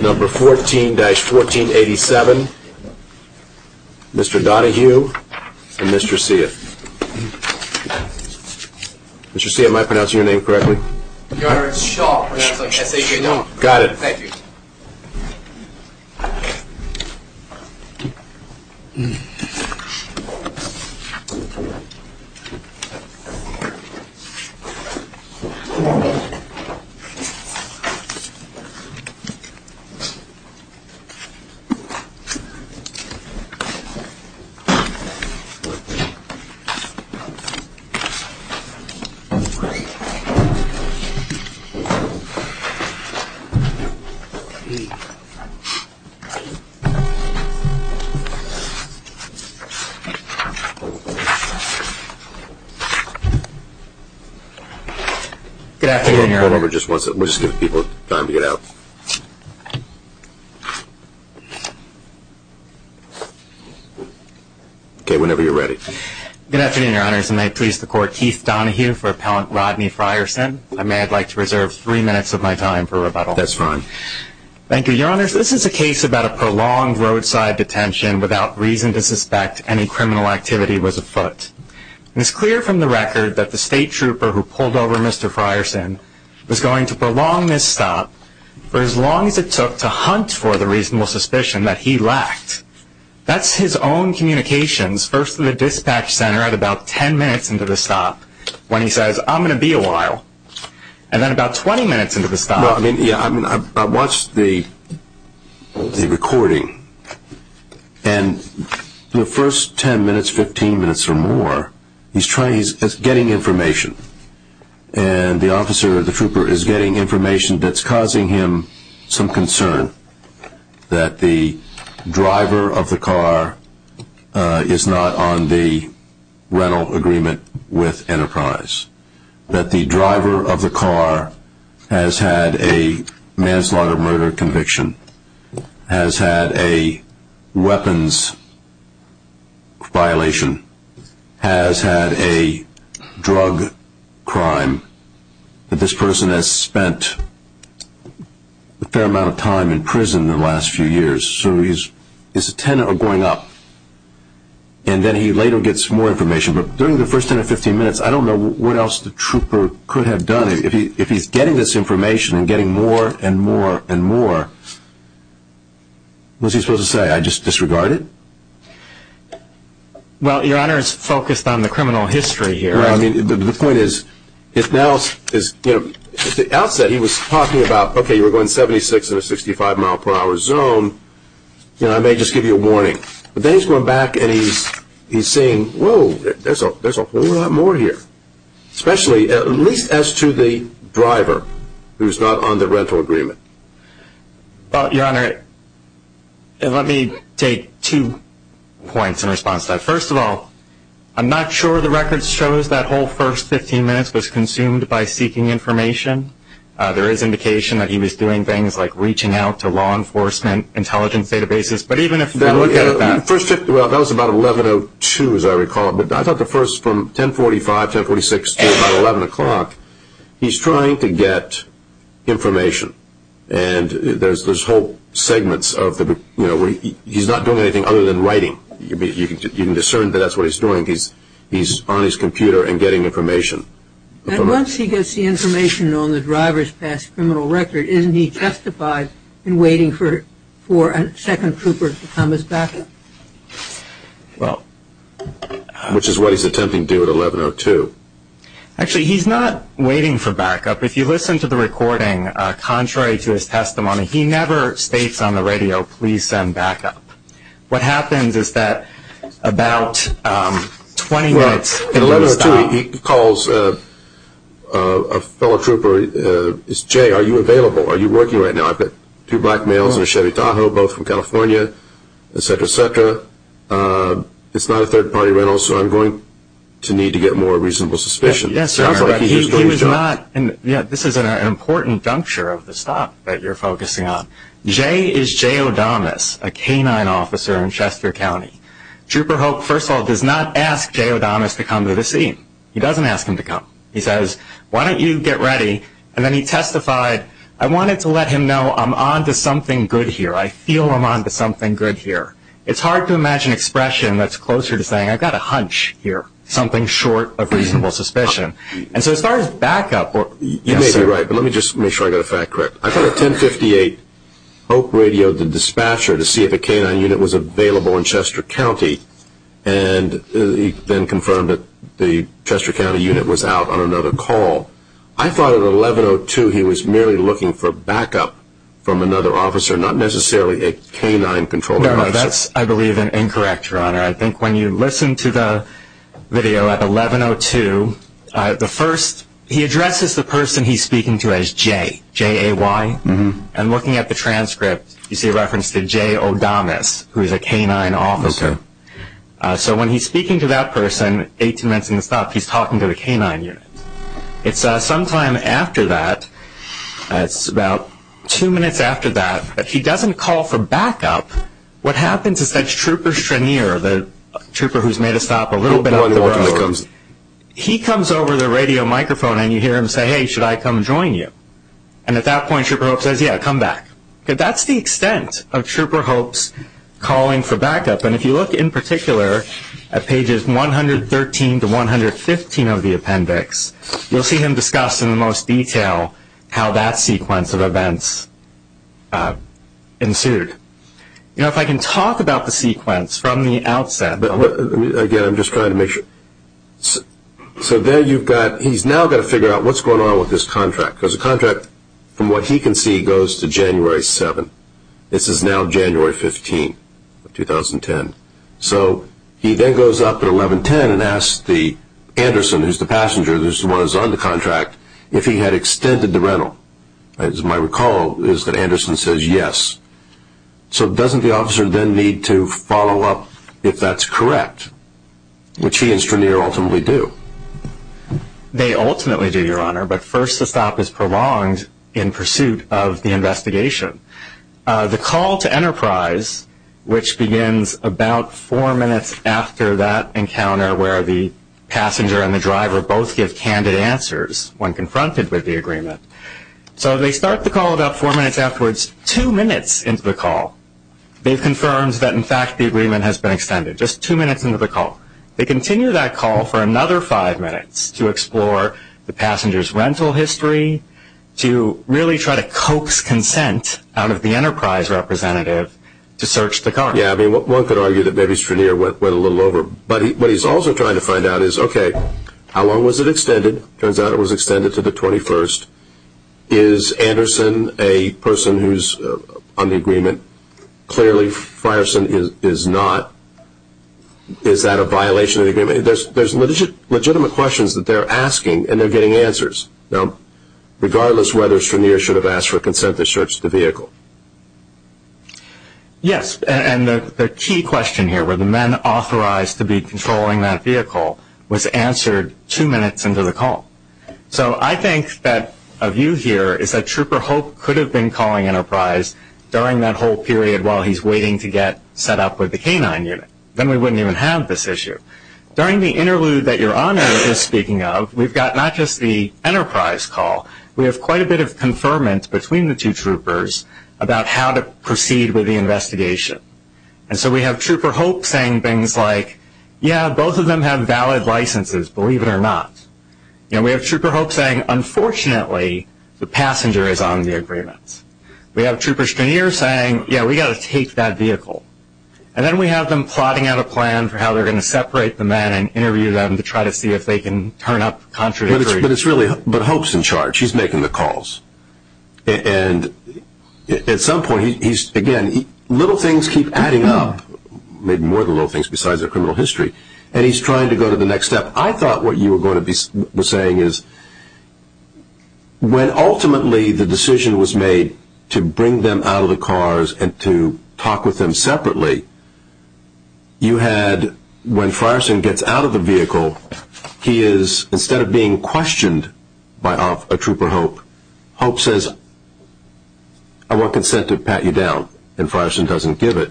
number 14-1487, Mr. Donahue and Mr. Seath. Mr. Seath, am I pronouncing your name correctly? Your Honor, it's Shaw, pronounced like S-A-W-N. Got it. Thank you. Thank you, Your Honor. Good afternoon, Your Honor. Good afternoon, Your Honor. May I please the Court, Keith Donahue for Appellant Rodney Frierson. I may I'd like to reserve three minutes of my time for rebuttal. That's fine. Thank you, Your Honor. This is a case about a prolonged roadside detention without reason to suspect any criminal activity was afoot. It's clear from the record that the State Trooper who pulled over Mr. Frierson was going to prolong this stop for as long as it took to hunt for the reasonable suspicion that he lacked. That's his own communications, first to the dispatch center at about 10 minutes into the stop, when he says, I'm going to be a while. And then about 20 minutes into the stop. I watched the recording, and the first 10 minutes, 15 minutes or more, he's getting information. And the officer, the trooper, is getting information that's causing him some concern that the driver of the car is not on the rental agreement with Enterprise. That the driver of the car has had a manslaughter murder conviction. Has had a weapons violation. Has had a drug crime. That this person has spent a fair amount of time in prison in the last few years. So he's a tenant or going up. And then he later gets more information. But during the first 10 or 15 minutes, I don't know what else the trooper could have done. If he's getting this information and getting more and more and more, what's he supposed to say? I just disregard it? Well, your Honor, it's focused on the criminal history here. The point is, at the outset he was talking about, okay, you were going 76 in a 65 mile per hour zone. I may just give you a warning. But then he's going back and he's saying, whoa, there's a whole lot more here. Especially, at least as to the driver, who's not on the rental agreement. Well, your Honor, let me take two points in response to that. First of all, I'm not sure the record shows that whole first 15 minutes was consumed by seeking information. There is indication that he was doing things like reaching out to law enforcement, intelligence databases. But even if you look at that. Well, that was about 11.02, as I recall. But I thought the first from 10.45, 10.46 to about 11 o'clock, he's trying to get information. And there's whole segments of the, you know, where he's not doing anything other than writing. You can discern that that's what he's doing. He's on his computer and getting information. And once he gets the information on the driver's past criminal record, isn't he justified in waiting for a second trooper to come as backup? Which is what he's attempting to do at 11.02. Actually, he's not waiting for backup. If you listen to the recording, contrary to his testimony, he never states on the radio, please send backup. What happens is that about 20 minutes. At 11.02, he calls a fellow trooper. He says, Jay, are you available? Are you working right now? I've got two black males in a Chevy Tahoe, both from California, et cetera, et cetera. It's not a third-party rental, so I'm going to need to get more reasonable suspicion. Yes, sir. He was not. This is an important juncture of the stop that you're focusing on. Jay is Jay O'Donis, a K-9 officer in Chester County. Trooper Hope, first of all, does not ask Jay O'Donis to come to the scene. He doesn't ask him to come. He says, why don't you get ready? And then he testified, I wanted to let him know I'm on to something good here. I feel I'm on to something good here. It's hard to imagine expression that's closer to saying I've got a hunch here, something short of reasonable suspicion. And so as far as backup, you may be right, but let me just make sure I got the fact correct. I thought at 1058, Hope radioed the dispatcher to see if a K-9 unit was available in Chester County, and he then confirmed that the Chester County unit was out on another call. I thought at 1102 he was merely looking for backup from another officer, not necessarily a K-9-controlled officer. No, no, that's, I believe, an incorrect, Your Honor. I think when you listen to the video at 1102, the first, he addresses the person he's speaking to as Jay, J-A-Y. And looking at the transcript, you see a reference to Jay O'Donis, who is a K-9 officer. So when he's speaking to that person, 18 minutes into the stop, he's talking to the K-9 unit. It's sometime after that, it's about two minutes after that, that he doesn't call for backup. What happens is that Trooper Strenier, the trooper who's made a stop a little bit out of the road, he comes over the radio microphone, and you hear him say, hey, should I come join you? And at that point, Trooper Hope says, yeah, come back. That's the extent of Trooper Hope's calling for backup. And if you look in particular at pages 113 to 115 of the appendix, you'll see him discuss in the most detail how that sequence of events ensued. You know, if I can talk about the sequence from the outset. Again, I'm just trying to make sure. So there you've got, he's now got to figure out what's going on with this contract, because the contract, from what he can see, goes to January 7th. This is now January 15th of 2010. So he then goes up at 1110 and asks Anderson, who's the passenger, who's the one who's on the contract, if he had extended the rental. As I recall, Anderson says yes. So doesn't the officer then need to follow up if that's correct, which he and Strenier ultimately do? They ultimately do, Your Honor, but first the stop is prolonged in pursuit of the investigation. The call to Enterprise, which begins about four minutes after that encounter where the passenger and the driver both give candid answers when confronted with the agreement. So they start the call about four minutes afterwards, two minutes into the call. They've confirmed that, in fact, the agreement has been extended, just two minutes into the call. They continue that call for another five minutes to explore the passenger's rental history, to really try to coax consent out of the Enterprise representative to search the car. Yeah, I mean, one could argue that maybe Strenier went a little over. But what he's also trying to find out is, okay, how long was it extended? It turns out it was extended to the 21st. Is Anderson a person who's on the agreement? Clearly Frierson is not. Is that a violation of the agreement? There's legitimate questions that they're asking, and they're getting answers. Now, regardless whether Strenier should have asked for consent to search the vehicle. Yes, and the key question here, were the men authorized to be controlling that vehicle, was answered two minutes into the call. So I think that a view here is that Trooper Hope could have been calling Enterprise during that whole period while he's waiting to get set up with the K-9 unit. Then we wouldn't even have this issue. During the interlude that your Honor is speaking of, we've got not just the Enterprise call, we have quite a bit of conferment between the two troopers about how to proceed with the investigation. And so we have Trooper Hope saying things like, yeah, both of them have valid licenses, believe it or not. We have Trooper Hope saying, unfortunately, the passenger is on the agreement. We have Trooper Strenier saying, yeah, we've got to take that vehicle. And then we have them plotting out a plan for how they're going to separate the men and interview them to try to see if they can turn up contradictory. But Hope's in charge. He's making the calls. And at some point, again, little things keep adding up, maybe more than little things besides their criminal history. And he's trying to go to the next step. I thought what you were saying is when ultimately the decision was made to bring them out of the cars and to talk with them separately, you had when Frierson gets out of the vehicle, he is, instead of being questioned by a Trooper Hope, Hope says, I want consent to pat you down. And Frierson doesn't give it.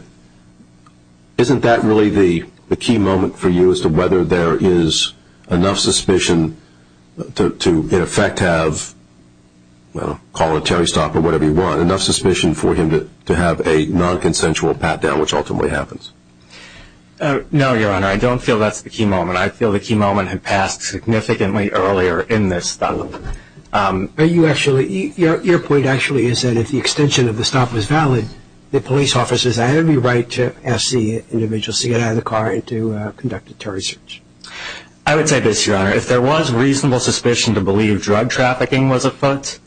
Isn't that really the key moment for you as to whether there is enough suspicion to in effect have, call it a Terry stop or whatever you want, enough suspicion for him to have a non-consensual pat down, which ultimately happens? No, Your Honor, I don't feel that's the key moment. I feel the key moment had passed significantly earlier in this. But your point actually is that if the extension of the stop was valid, the police officers had every right to ask the individuals to get out of the car and to conduct a Terry search. I would say this, Your Honor. If there was reasonable suspicion to believe drug trafficking was afoot,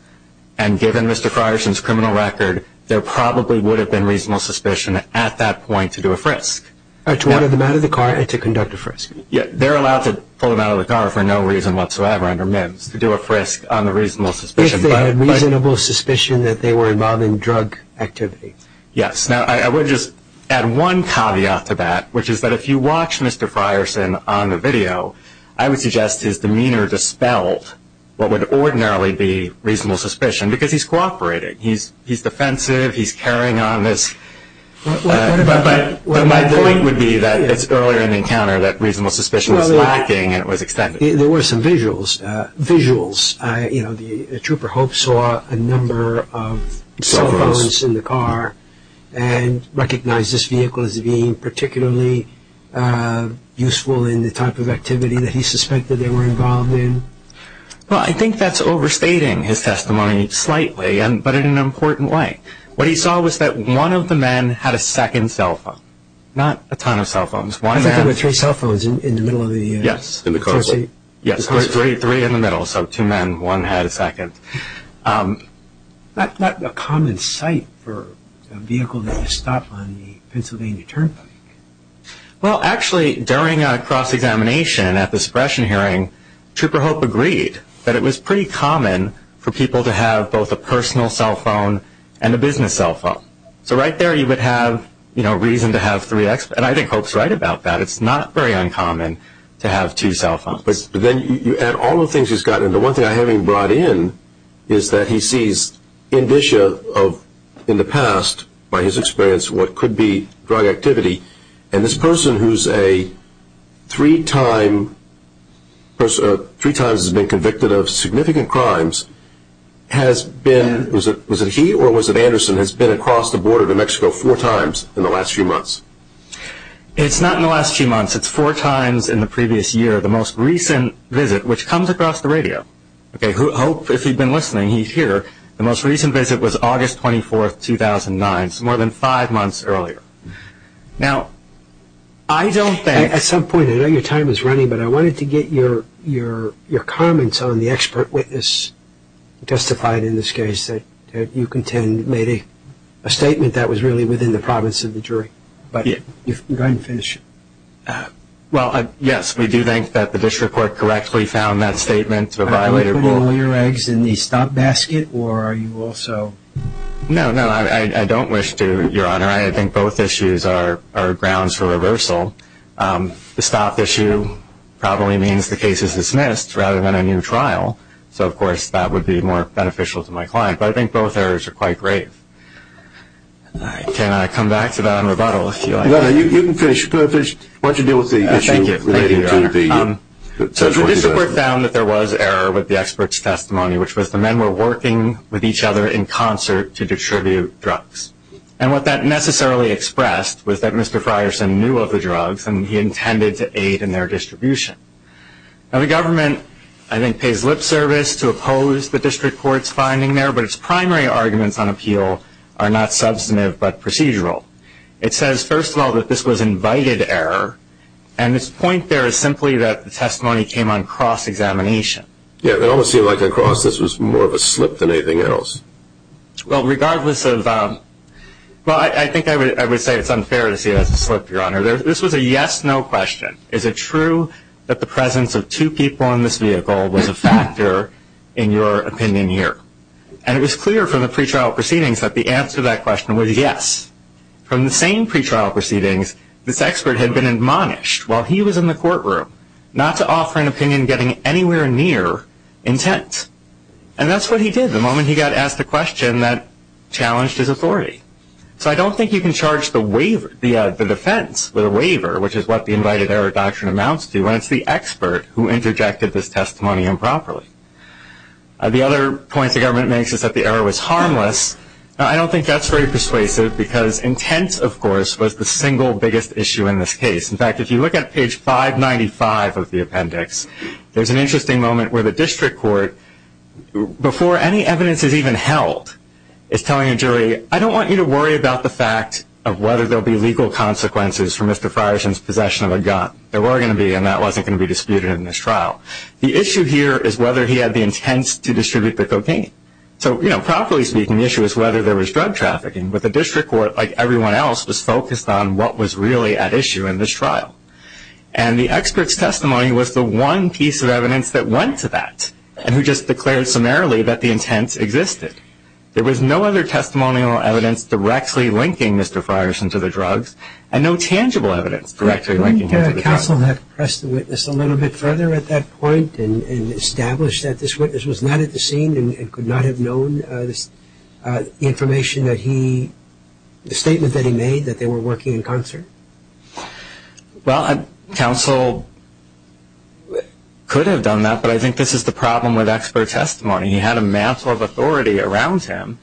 and given Mr. Frierson's criminal record, there probably would have been reasonable suspicion at that point to do a frisk. To pull them out of the car and to conduct a frisk. They're allowed to pull them out of the car for no reason whatsoever under MIMS, to do a frisk on the reasonable suspicion. If they had reasonable suspicion that they were involving drug activity. Yes. Now, I would just add one caveat to that, which is that if you watch Mr. Frierson on the video, I would suggest his demeanor dispelled what would ordinarily be reasonable suspicion, because he's cooperating. He's defensive. He's carrying on this. But my point would be that it's earlier in the encounter that reasonable suspicion was lacking and it was extended. There were some visuals. Trooper Hope saw a number of cell phones in the car and recognized this vehicle as being particularly useful in the type of activity that he suspected they were involved in. Well, I think that's overstating his testimony slightly, but in an important way. What he saw was that one of the men had a second cell phone. Not a ton of cell phones. I thought there were three cell phones in the middle of the car seat. Yes, there were three in the middle, so two men, one had a second. Not a common sight for a vehicle to stop on the Pennsylvania Turnpike. Well, actually, during a cross-examination at the suppression hearing, Trooper Hope agreed that it was pretty common for people to have both a personal cell phone and a business cell phone. So right there you would have reason to have three. And I think Hope's right about that. It's not very uncommon to have two cell phones. But then you add all the things he's gotten, and the one thing I haven't even brought in is that he sees indicia of, in the past, by his experience, what could be drug activity. And this person who's three times has been convicted of significant crimes has been, was it he or was it Anderson, has been across the border to Mexico four times in the last few months. It's not in the last few months. It's four times in the previous year. The most recent visit, which comes across the radio. Hope, if you've been listening, he's here. The most recent visit was August 24, 2009, so more than five months earlier. Now, I don't think... At some point, I know your time is running, but I wanted to get your comments on the expert witness testified in this case that you contend made a statement that was really within the province of the jury. But go ahead and finish. Well, yes, we do think that the district court correctly found that statement to have violated... Are you going to put all your eggs in the stomp basket, or are you also... No, no, I don't wish to, Your Honor. I think both issues are grounds for reversal. The stomp issue probably means the case is dismissed rather than a new trial. So, of course, that would be more beneficial to my client. But I think both errors are quite grave. Can I come back to that in rebuttal, if you like? No, no, you can finish. Why don't you deal with the issue relating to the... Thank you, Your Honor. So the district court found that there was error with the expert's testimony, which was the men were working with each other in concert to distribute drugs. And what that necessarily expressed was that Mr. Frierson knew of the drugs, and he intended to aid in their distribution. Now, the government, I think, pays lip service to oppose the district court's finding there, but its primary arguments on appeal are not substantive but procedural. It says, first of all, that this was invited error, and its point there is simply that the testimony came on cross-examination. Yeah, it almost seemed like a cross. This was more of a slip than anything else. Well, regardless of... Well, I think I would say it's unfair to say that's a slip, Your Honor. This was a yes-no question. Is it true that the presence of two people in this vehicle was a factor in your opinion here? And it was clear from the pretrial proceedings that the answer to that question was yes. From the same pretrial proceedings, this expert had been admonished while he was in the courtroom not to offer an opinion getting anywhere near intent. And that's what he did the moment he got asked a question that challenged his authority. Which is what the invited error doctrine amounts to, and it's the expert who interjected this testimony improperly. The other point the government makes is that the error was harmless. I don't think that's very persuasive because intent, of course, was the single biggest issue in this case. In fact, if you look at page 595 of the appendix, there's an interesting moment where the district court, before any evidence is even held, is telling a jury, I don't want you to worry about the fact of whether there will be legal consequences for Mr. Frierson's possession of a gun. There were going to be, and that wasn't going to be disputed in this trial. The issue here is whether he had the intents to distribute the cocaine. So, you know, properly speaking, the issue is whether there was drug trafficking. But the district court, like everyone else, was focused on what was really at issue in this trial. And the expert's testimony was the one piece of evidence that went to that and who just declared summarily that the intents existed. There was no other testimonial evidence directly linking Mr. Frierson to the drugs and no tangible evidence directly linking him to the drugs. Couldn't the counsel have pressed the witness a little bit further at that point and established that this witness was not at the scene and could not have known the information that he, the statement that he made that they were working in concert? Well, counsel could have done that, but I think this is the problem with expert testimony. He had a mantle of authority around him.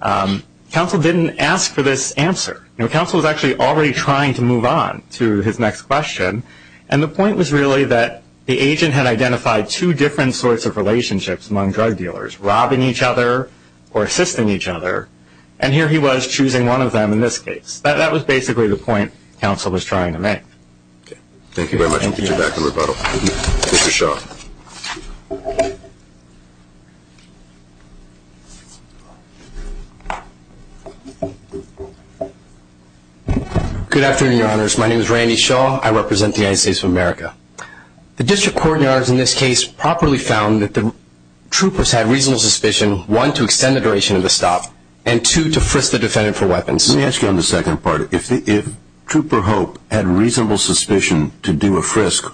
Counsel didn't ask for this answer. Counsel was actually already trying to move on to his next question, and the point was really that the agent had identified two different sorts of relationships among drug dealers, robbing each other or assisting each other, and here he was choosing one of them in this case. That was basically the point counsel was trying to make. Thank you very much. We'll get you back in rebuttal. Mr. Shaw. Good afternoon, Your Honors. My name is Randy Shaw. I represent the United States of America. The district court in this case properly found that the troopers had reasonable suspicion, one, to extend the duration of the stop, and two, to frisk the defendant for weapons. Let me ask you on the second part. If Trooper Hope had reasonable suspicion to do a frisk,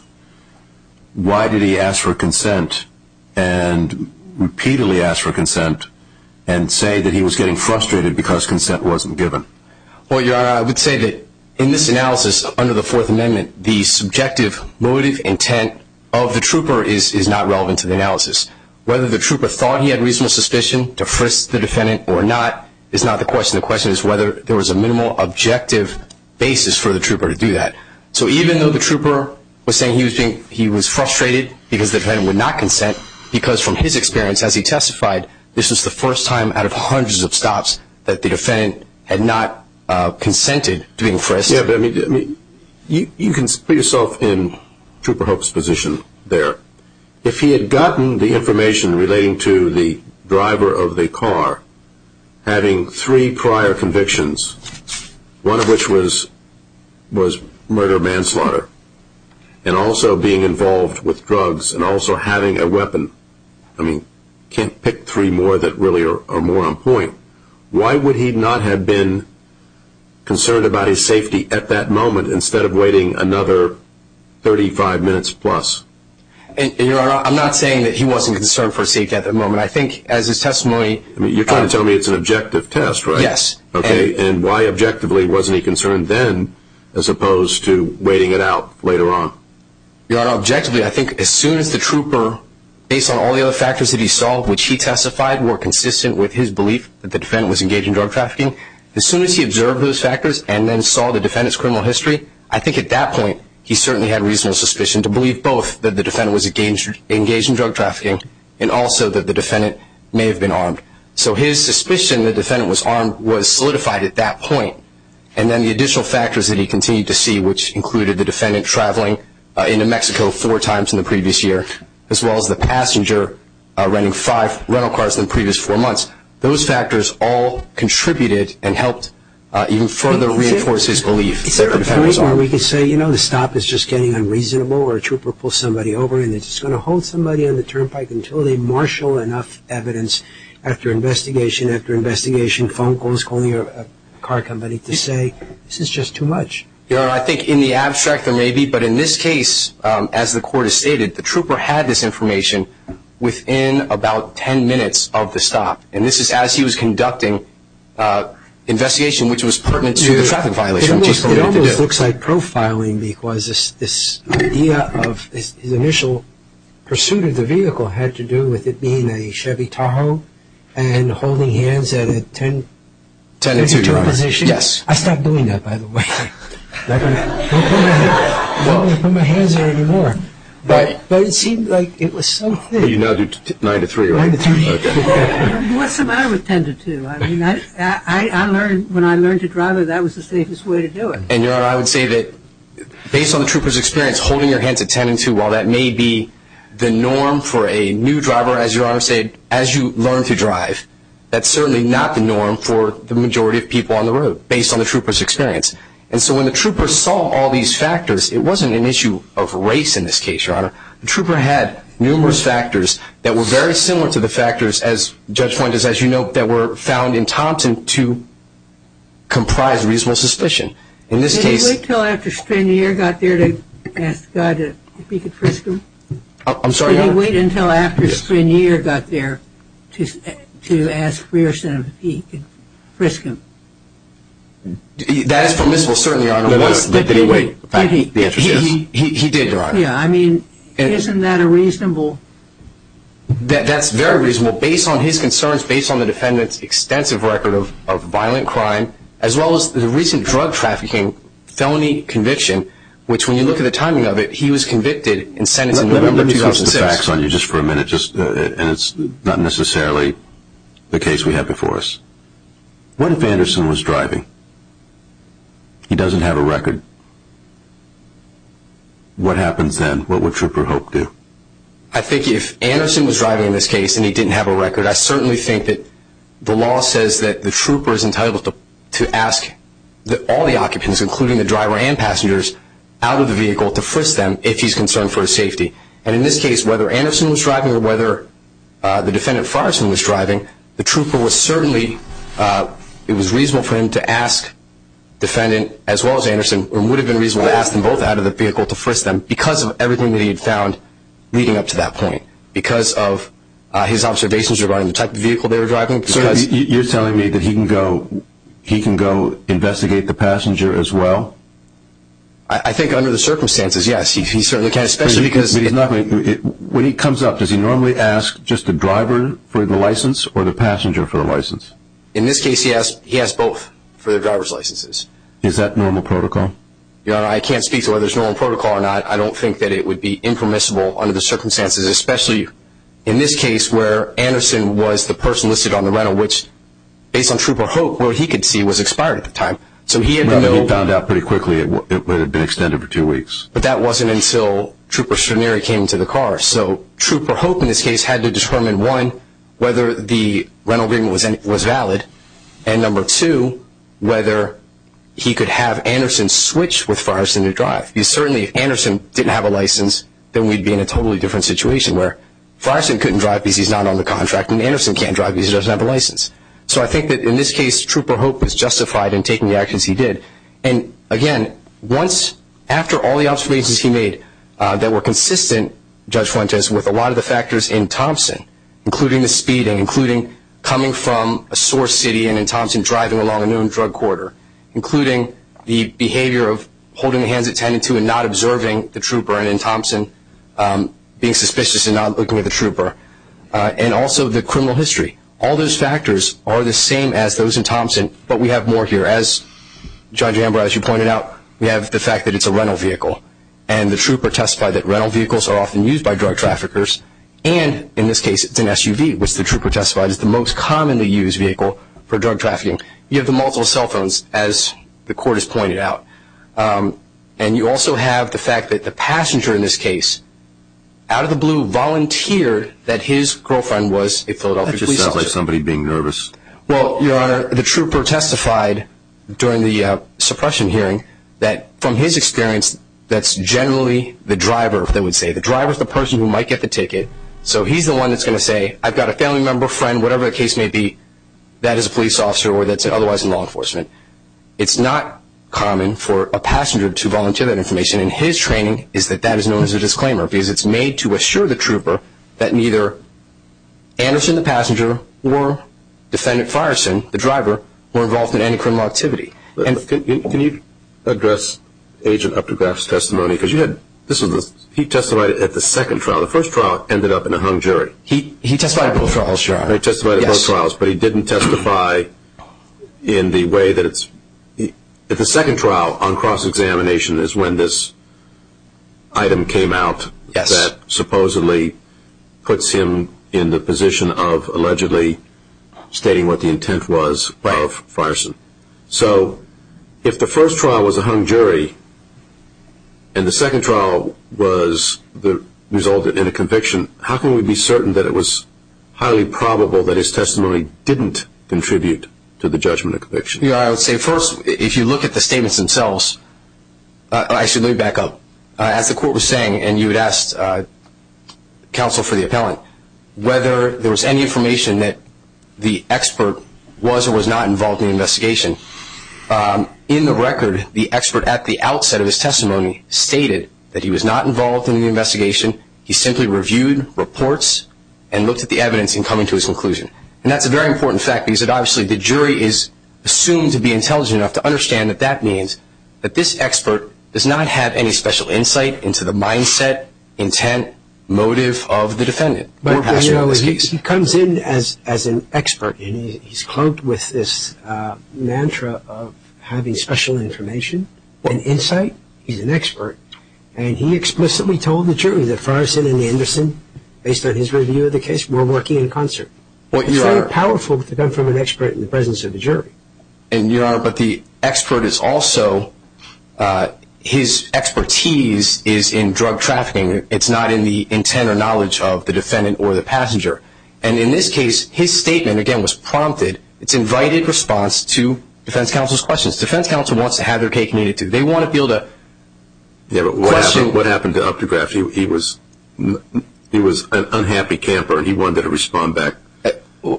why did he ask for consent and repeatedly ask for consent and say that he was getting frustrated because consent wasn't given? Well, Your Honor, I would say that in this analysis under the Fourth Amendment, the subjective motive intent of the trooper is not relevant to the analysis. Whether the trooper thought he had reasonable suspicion to frisk the defendant or not is not the question. The question is whether there was a minimal objective basis for the trooper to do that. So even though the trooper was saying he was frustrated because the defendant would not consent, because from his experience as he testified, this was the first time out of hundreds of stops that the defendant had not consented to being frisked. Yeah, but you can put yourself in Trooper Hope's position there. If he had gotten the information relating to the driver of the car having three prior convictions, one of which was murder-manslaughter and also being involved with drugs and also having a weapon, I mean, you can't pick three more that really are more on point. Why would he not have been concerned about his safety at that moment instead of waiting another 35 minutes plus? Your Honor, I'm not saying that he wasn't concerned for his safety at that moment. I think as his testimony— You're trying to tell me it's an objective test, right? Yes. Okay, and why objectively wasn't he concerned then as opposed to waiting it out later on? Your Honor, objectively, I think as soon as the trooper, based on all the other factors that he saw, which he testified were consistent with his belief that the defendant was engaged in drug trafficking, as soon as he observed those factors and then saw the defendant's criminal history, I think at that point he certainly had reasonable suspicion to believe both that the defendant was engaged in drug trafficking and also that the defendant may have been armed. So his suspicion that the defendant was armed was solidified at that point, and then the additional factors that he continued to see, which included the defendant traveling into Mexico four times in the previous year, as well as the passenger renting five rental cars in the previous four months, those factors all contributed and helped even further reinforce his belief that the defendant was armed. Is there a point where we could say, you know, the stop is just getting unreasonable or a trooper pulls somebody over and they're just going to hold somebody on the turnpike until they marshal enough evidence after investigation, after investigation, phone calls, calling a car company to say this is just too much? Your Honor, I think in the abstract there may be, but in this case, as the Court has stated, the trooper had this information within about ten minutes of the stop, and this is as he was conducting investigation, which was pertinent to the traffic violation, which he's permitted to do. It almost looks like profiling because this idea of his initial pursuit of the vehicle had to do with it being a Chevy Tahoe and holding hands at a ten-inch or two position. Yes. I stopped doing that, by the way. I'm not going to put my hands there anymore. But it seemed like it was something. You now do nine to three, right? Nine to three. What's the matter with ten to two? I mean, when I learned to drive, that was the safest way to do it. And, Your Honor, I would say that based on the trooper's experience, holding your hands at ten and two, while that may be the norm for a new driver, as Your Honor said, as you learn to drive, that's certainly not the norm for the majority of people on the road based on the trooper's experience. And so when the trooper saw all these factors, it wasn't an issue of race in this case, Your Honor. The trooper had numerous factors that were very similar to the factors, as Judge Point has, as you note, that were found in Thompson to comprise reasonable suspicion. In this case – Did he wait until after Strenier got there to ask the guy if he could frisk him? I'm sorry, Your Honor? Did he wait until after Strenier got there to ask Pearson if he could frisk him? That is permissible, certainly, Your Honor. But did he wait? He did, Your Honor. Yeah, I mean, isn't that a reasonable – That's very reasonable. Based on his concerns, based on the defendant's extensive record of violent crime, as well as the recent drug trafficking felony conviction, which when you look at the timing of it, he was convicted and sentenced in November 2006. Let me get the facts on you just for a minute, and it's not necessarily the case we have before us. What if Anderson was driving? He doesn't have a record. What happens then? What would Trooper Hope do? I think if Anderson was driving in this case and he didn't have a record, I certainly think that the law says that the trooper is entitled to ask all the occupants, including the driver and passengers, out of the vehicle to frisk them if he's concerned for his safety. And in this case, whether Anderson was driving or whether the defendant Forreston was driving, the trooper was certainly – it was reasonable for him to ask the defendant as well as Anderson, or it would have been reasonable to ask them both out of the vehicle to frisk them, because of everything that he had found leading up to that point, because of his observations regarding the type of vehicle they were driving. You're telling me that he can go investigate the passenger as well? I think under the circumstances, yes, he certainly can. When he comes up, does he normally ask just the driver for the license or the passenger for the license? In this case, he asks both for the driver's licenses. Is that normal protocol? I can't speak to whether it's normal protocol or not. I don't think that it would be impermissible under the circumstances, especially in this case where Anderson was the person listed on the rental, which based on Trooper Hope, what he could see was expired at the time. When he found out pretty quickly, it would have been extended for two weeks. But that wasn't until Trooper Stranieri came to the car. So Trooper Hope in this case had to determine, one, whether the rental agreement was valid, and number two, whether he could have Anderson switch with Forreston to drive. Certainly if Anderson didn't have a license, then we'd be in a totally different situation where Forreston couldn't drive because he's not on the contract, and Anderson can't drive because he doesn't have a license. So I think that in this case, Trooper Hope was justified in taking the actions he did. Again, after all the observations he made that were consistent, Judge Fuentes, with a lot of the factors in Thompson, including the speeding, including coming from a source city and in Thompson driving along a known drug corridor, including the behavior of holding hands at 10 and 2 and not observing the Trooper and in Thompson being suspicious and not looking at the Trooper, and also the criminal history. All those factors are the same as those in Thompson, but we have more here. As Judge Amber, as you pointed out, we have the fact that it's a rental vehicle, and the Trooper testified that rental vehicles are often used by drug traffickers, and in this case it's an SUV, which the Trooper testified is the most commonly used vehicle for drug trafficking. You have the multiple cell phones, as the court has pointed out, and you also have the fact that the passenger in this case, out of the blue, volunteered that his girlfriend was a Philadelphia police officer. That just sounds like somebody being nervous. Well, Your Honor, the Trooper testified during the suppression hearing that from his experience, that's generally the driver, they would say. The driver is the person who might get the ticket, so he's the one that's going to say, okay, I've got a family member, friend, whatever the case may be, that is a police officer or that's otherwise in law enforcement. It's not common for a passenger to volunteer that information, and his training is that that is known as a disclaimer because it's made to assure the Trooper that neither Anderson, the passenger, nor defendant Fireson, the driver, were involved in any criminal activity. Can you address Agent Uptegraff's testimony? He testified at the second trial. The first trial ended up in a hung jury. He testified at both trials, Your Honor. He testified at both trials, but he didn't testify in the way that it's – the second trial on cross-examination is when this item came out that supposedly puts him in the position of allegedly stating what the intent was of Fireson. So if the first trial was a hung jury and the second trial resulted in a conviction, how can we be certain that it was highly probable that his testimony didn't contribute to the judgment of conviction? Your Honor, I would say first, if you look at the statements themselves – actually, let me back up. As the court was saying, and you had asked counsel for the appellant, whether there was any information that the expert was or was not involved in the investigation. In the record, the expert at the outset of his testimony stated that he was not involved in the investigation. He simply reviewed reports and looked at the evidence in coming to his conclusion. And that's a very important fact because obviously the jury is assumed to be intelligent enough to understand that that means that this expert does not have any special insight into the mindset, intent, motive of the defendant. He comes in as an expert and he's cloaked with this mantra of having special information and insight. He's an expert. And he explicitly told the jury that Fireson and Anderson, based on his review of the case, were working in concert. It's very powerful to come from an expert in the presence of a jury. And, Your Honor, but the expert is also – his expertise is in drug trafficking. It's not in the intent or knowledge of the defendant or the passenger. And in this case, his statement, again, was prompted. It's invited response to defense counsel's questions. Defense counsel wants to have their cake and eat it too. They want to build a question. Yeah, but what happened to Updegraft? He was an unhappy camper. He wanted to respond back.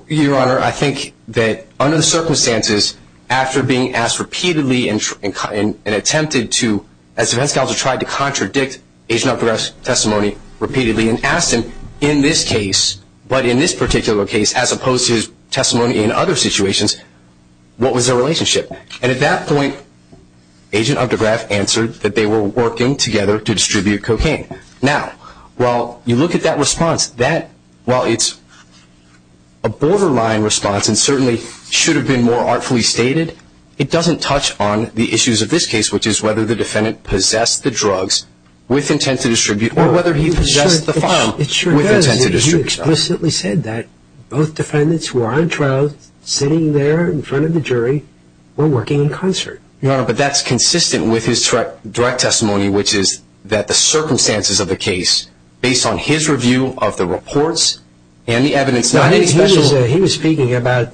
Your Honor, I think that, under the circumstances, after being asked repeatedly and attempted to, as defense counsel tried to contradict Agent Updegraft's testimony repeatedly and asked him in this case, but in this particular case, as opposed to his testimony in other situations, what was their relationship? And at that point, Agent Updegraft answered that they were working together to distribute cocaine. Now, while you look at that response, while it's a borderline response and certainly should have been more artfully stated, it doesn't touch on the issues of this case, which is whether the defendant possessed the drugs with intent to distribute or whether he possessed the file with intent to distribute. It sure does. You explicitly said that both defendants who are on trial sitting there in front of the jury were working in concert. Your Honor, but that's consistent with his direct testimony, which is that the circumstances of the case, based on his review of the reports and the evidence, not any special... He was speaking about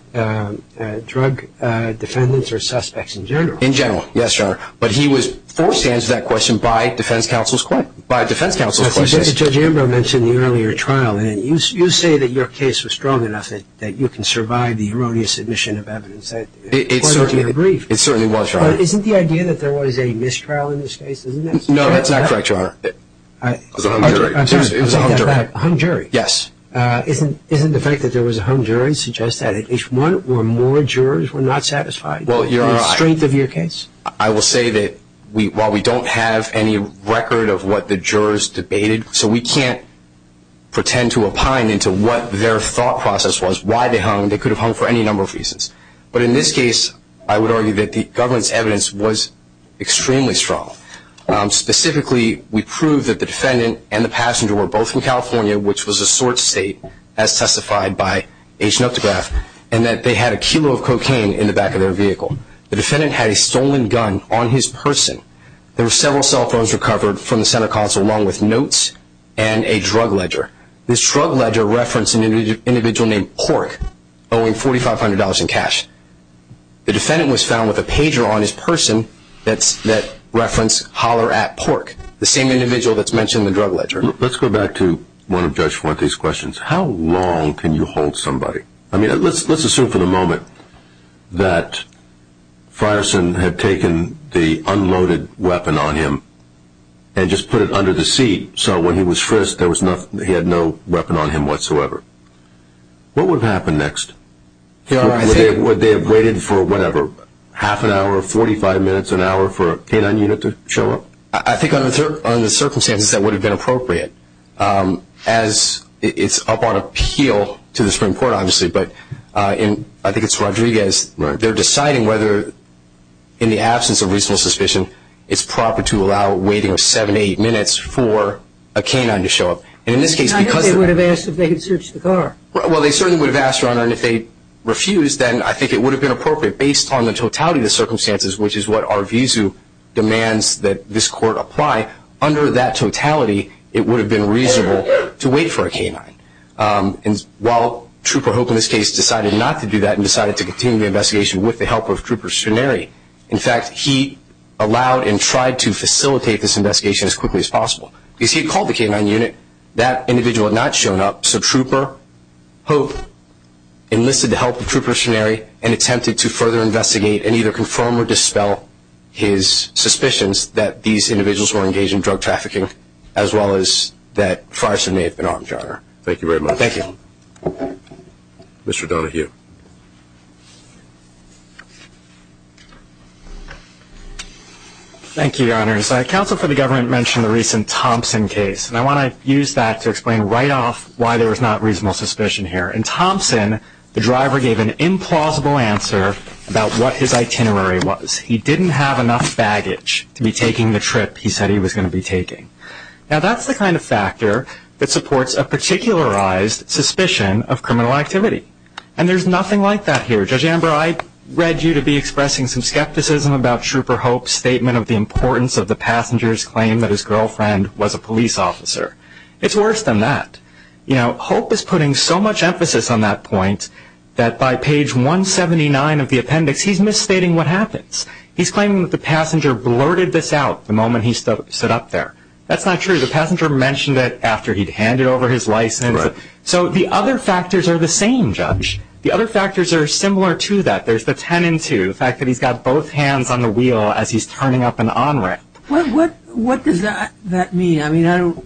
drug defendants or suspects in general. In general, yes, Your Honor. But he was forced to answer that question by defense counsel's questions. Judge Ambrose mentioned the earlier trial. You say that your case was strong enough that you can survive the erroneous admission of evidence. It certainly was, Your Honor. But isn't the idea that there was a mistrial in this case? No, that's not correct, Your Honor. It was a hung jury. It was a hung jury. A hung jury? Yes. Isn't the fact that there was a hung jury suggest that at least one or more jurors were not satisfied? Well, Your Honor... In the strength of your case? I will say that while we don't have any record of what the jurors debated, so we can't pretend to opine into what their thought process was, why they hung. They could have hung for any number of reasons. But in this case, I would argue that the government's evidence was extremely strong. Specifically, we proved that the defendant and the passenger were both from California, which was a sort state as testified by H. Noctograph, and that they had a kilo of cocaine in the back of their vehicle. The defendant had a stolen gun on his person. There were several cell phones recovered from the Senate consul along with notes and a drug ledger. This drug ledger referenced an individual named Pork, owing $4,500 in cash. The defendant was found with a pager on his person that referenced Holler at Pork, the same individual that's mentioned in the drug ledger. Let's go back to one of Judge Fuente's questions. How long can you hold somebody? I mean, let's assume for the moment that Frierson had taken the unloaded weapon on him and just put it under the seat so when he was frisked he had no weapon on him whatsoever. What would happen next? Would they have waited for whatever, half an hour, 45 minutes, an hour for a K-9 unit to show up? I think under the circumstances that would have been appropriate, as it's up on appeal to the Supreme Court, obviously, but I think it's Rodriguez. They're deciding whether, in the absence of reasonable suspicion, it's proper to allow waiting seven, eight minutes for a K-9 to show up. I think they would have asked if they could search the car. Well, they certainly would have asked, Your Honor, and if they refused, then I think it would have been appropriate based on the totality of the circumstances, which is what our vizu demands that this Court apply. Under that totality, it would have been reasonable to wait for a K-9. While Trooper Hope, in this case, decided not to do that and decided to continue the investigation with the help of Trooper Shannary, in fact, he allowed and tried to facilitate this investigation as quickly as possible. Because he called the K-9 unit, that individual had not shown up, so Trooper Hope enlisted the help of Trooper Shannary and attempted to further investigate and either confirm or dispel his suspicions that these individuals were engaged in drug trafficking, as well as that Farson may have been armed, Your Honor. Thank you very much. Thank you. Mr. Donohue. Thank you, Your Honors. Council for the Government mentioned the recent Thompson case, and I want to use that to explain right off why there is not reasonable suspicion here. In Thompson, the driver gave an implausible answer about what his itinerary was. He didn't have enough baggage to be taking the trip he said he was going to be taking. Now that's the kind of factor that supports a particularized suspicion of criminal activity. And there's nothing like that here. Judge Amber, I read you to be expressing some skepticism about Trooper Hope's statement of the importance of the passenger's claim that his girlfriend was a police officer. It's worse than that. You know, Hope is putting so much emphasis on that point that by page 179 of the appendix, he's misstating what happens. He's claiming that the passenger blurted this out the moment he stood up there. That's not true. The passenger mentioned it after he'd handed over his license. So the other factors are the same, Judge. The other factors are similar to that. There's the ten and two, the fact that he's got both hands on the wheel as he's turning up an onramp. What does that mean? I mean, I don't know.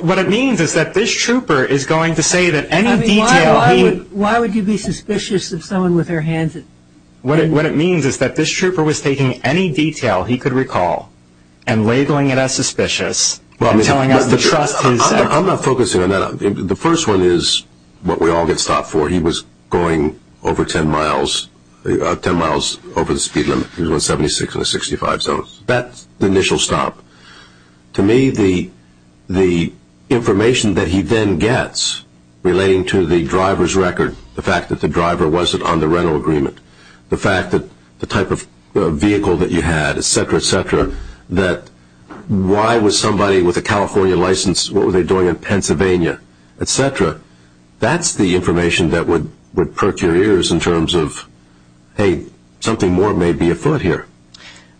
What it means is that this trooper is going to say that any detail he... I mean, why would you be suspicious of someone with their hands... What it means is that this trooper was taking any detail he could recall and labeling it as suspicious and telling us to trust his... I'm not focusing on that. The first one is what we all get stopped for. He was going over ten miles over the speed limit. He was going 76 in the 65 zone. That's the initial stop. To me, the information that he then gets relating to the driver's record, the fact that the driver wasn't on the rental agreement, the fact that the type of vehicle that you had, et cetera, et cetera, that why was somebody with a California license, what were they doing in Pennsylvania, et cetera, that's the information that would perk your ears in terms of, hey, something more may be afoot here.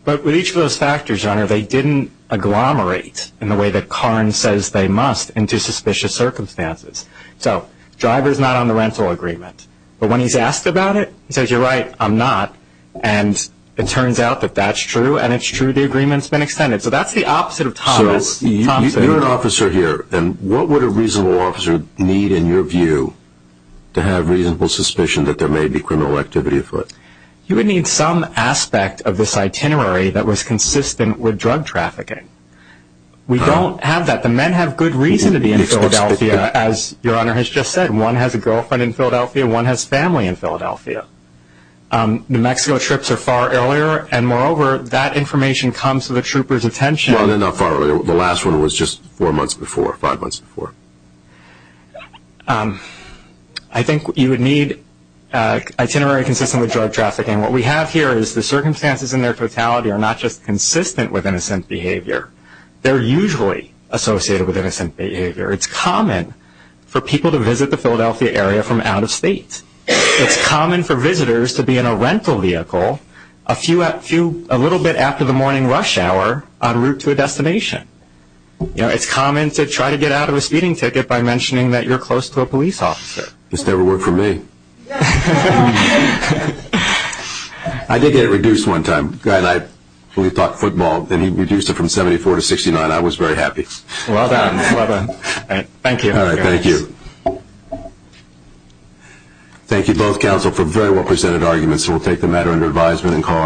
But with each of those factors, Your Honor, they didn't agglomerate in the way that Carnes says they must into suspicious circumstances. So the driver's not on the rental agreement. But when he's asked about it, he says, you're right, I'm not. And it turns out that that's true, and it's true the agreement's been extended. So that's the opposite of Thomas Thompson. So you're an officer here, and what would a reasonable officer need in your view to have reasonable suspicion that there may be criminal activity afoot? You would need some aspect of this itinerary that was consistent with drug trafficking. We don't have that. The men have good reason to be in Philadelphia, as Your Honor has just said. One has a girlfriend in Philadelphia. One has family in Philadelphia. New Mexico trips are far earlier, and moreover, that information comes to the trooper's attention. Well, they're not far earlier. The last one was just four months before, five months before. I think you would need itinerary consistent with drug trafficking. What we have here is the circumstances in their totality are not just consistent with innocent behavior. They're usually associated with innocent behavior. It's common for people to visit the Philadelphia area from out of state. It's common for visitors to be in a rental vehicle a little bit after the morning rush hour en route to a destination. It's common to try to get out of a speeding ticket by mentioning that you're close to a police officer. This never worked for me. I did get it reduced one time. The guy and I talked football, and he reduced it from 74 to 69. I was very happy. Well done. Well done. All right. Thank you. All right. Thank you. Thank you, both counsel, for very well-presented arguments. We'll take the matter under advisement and call it.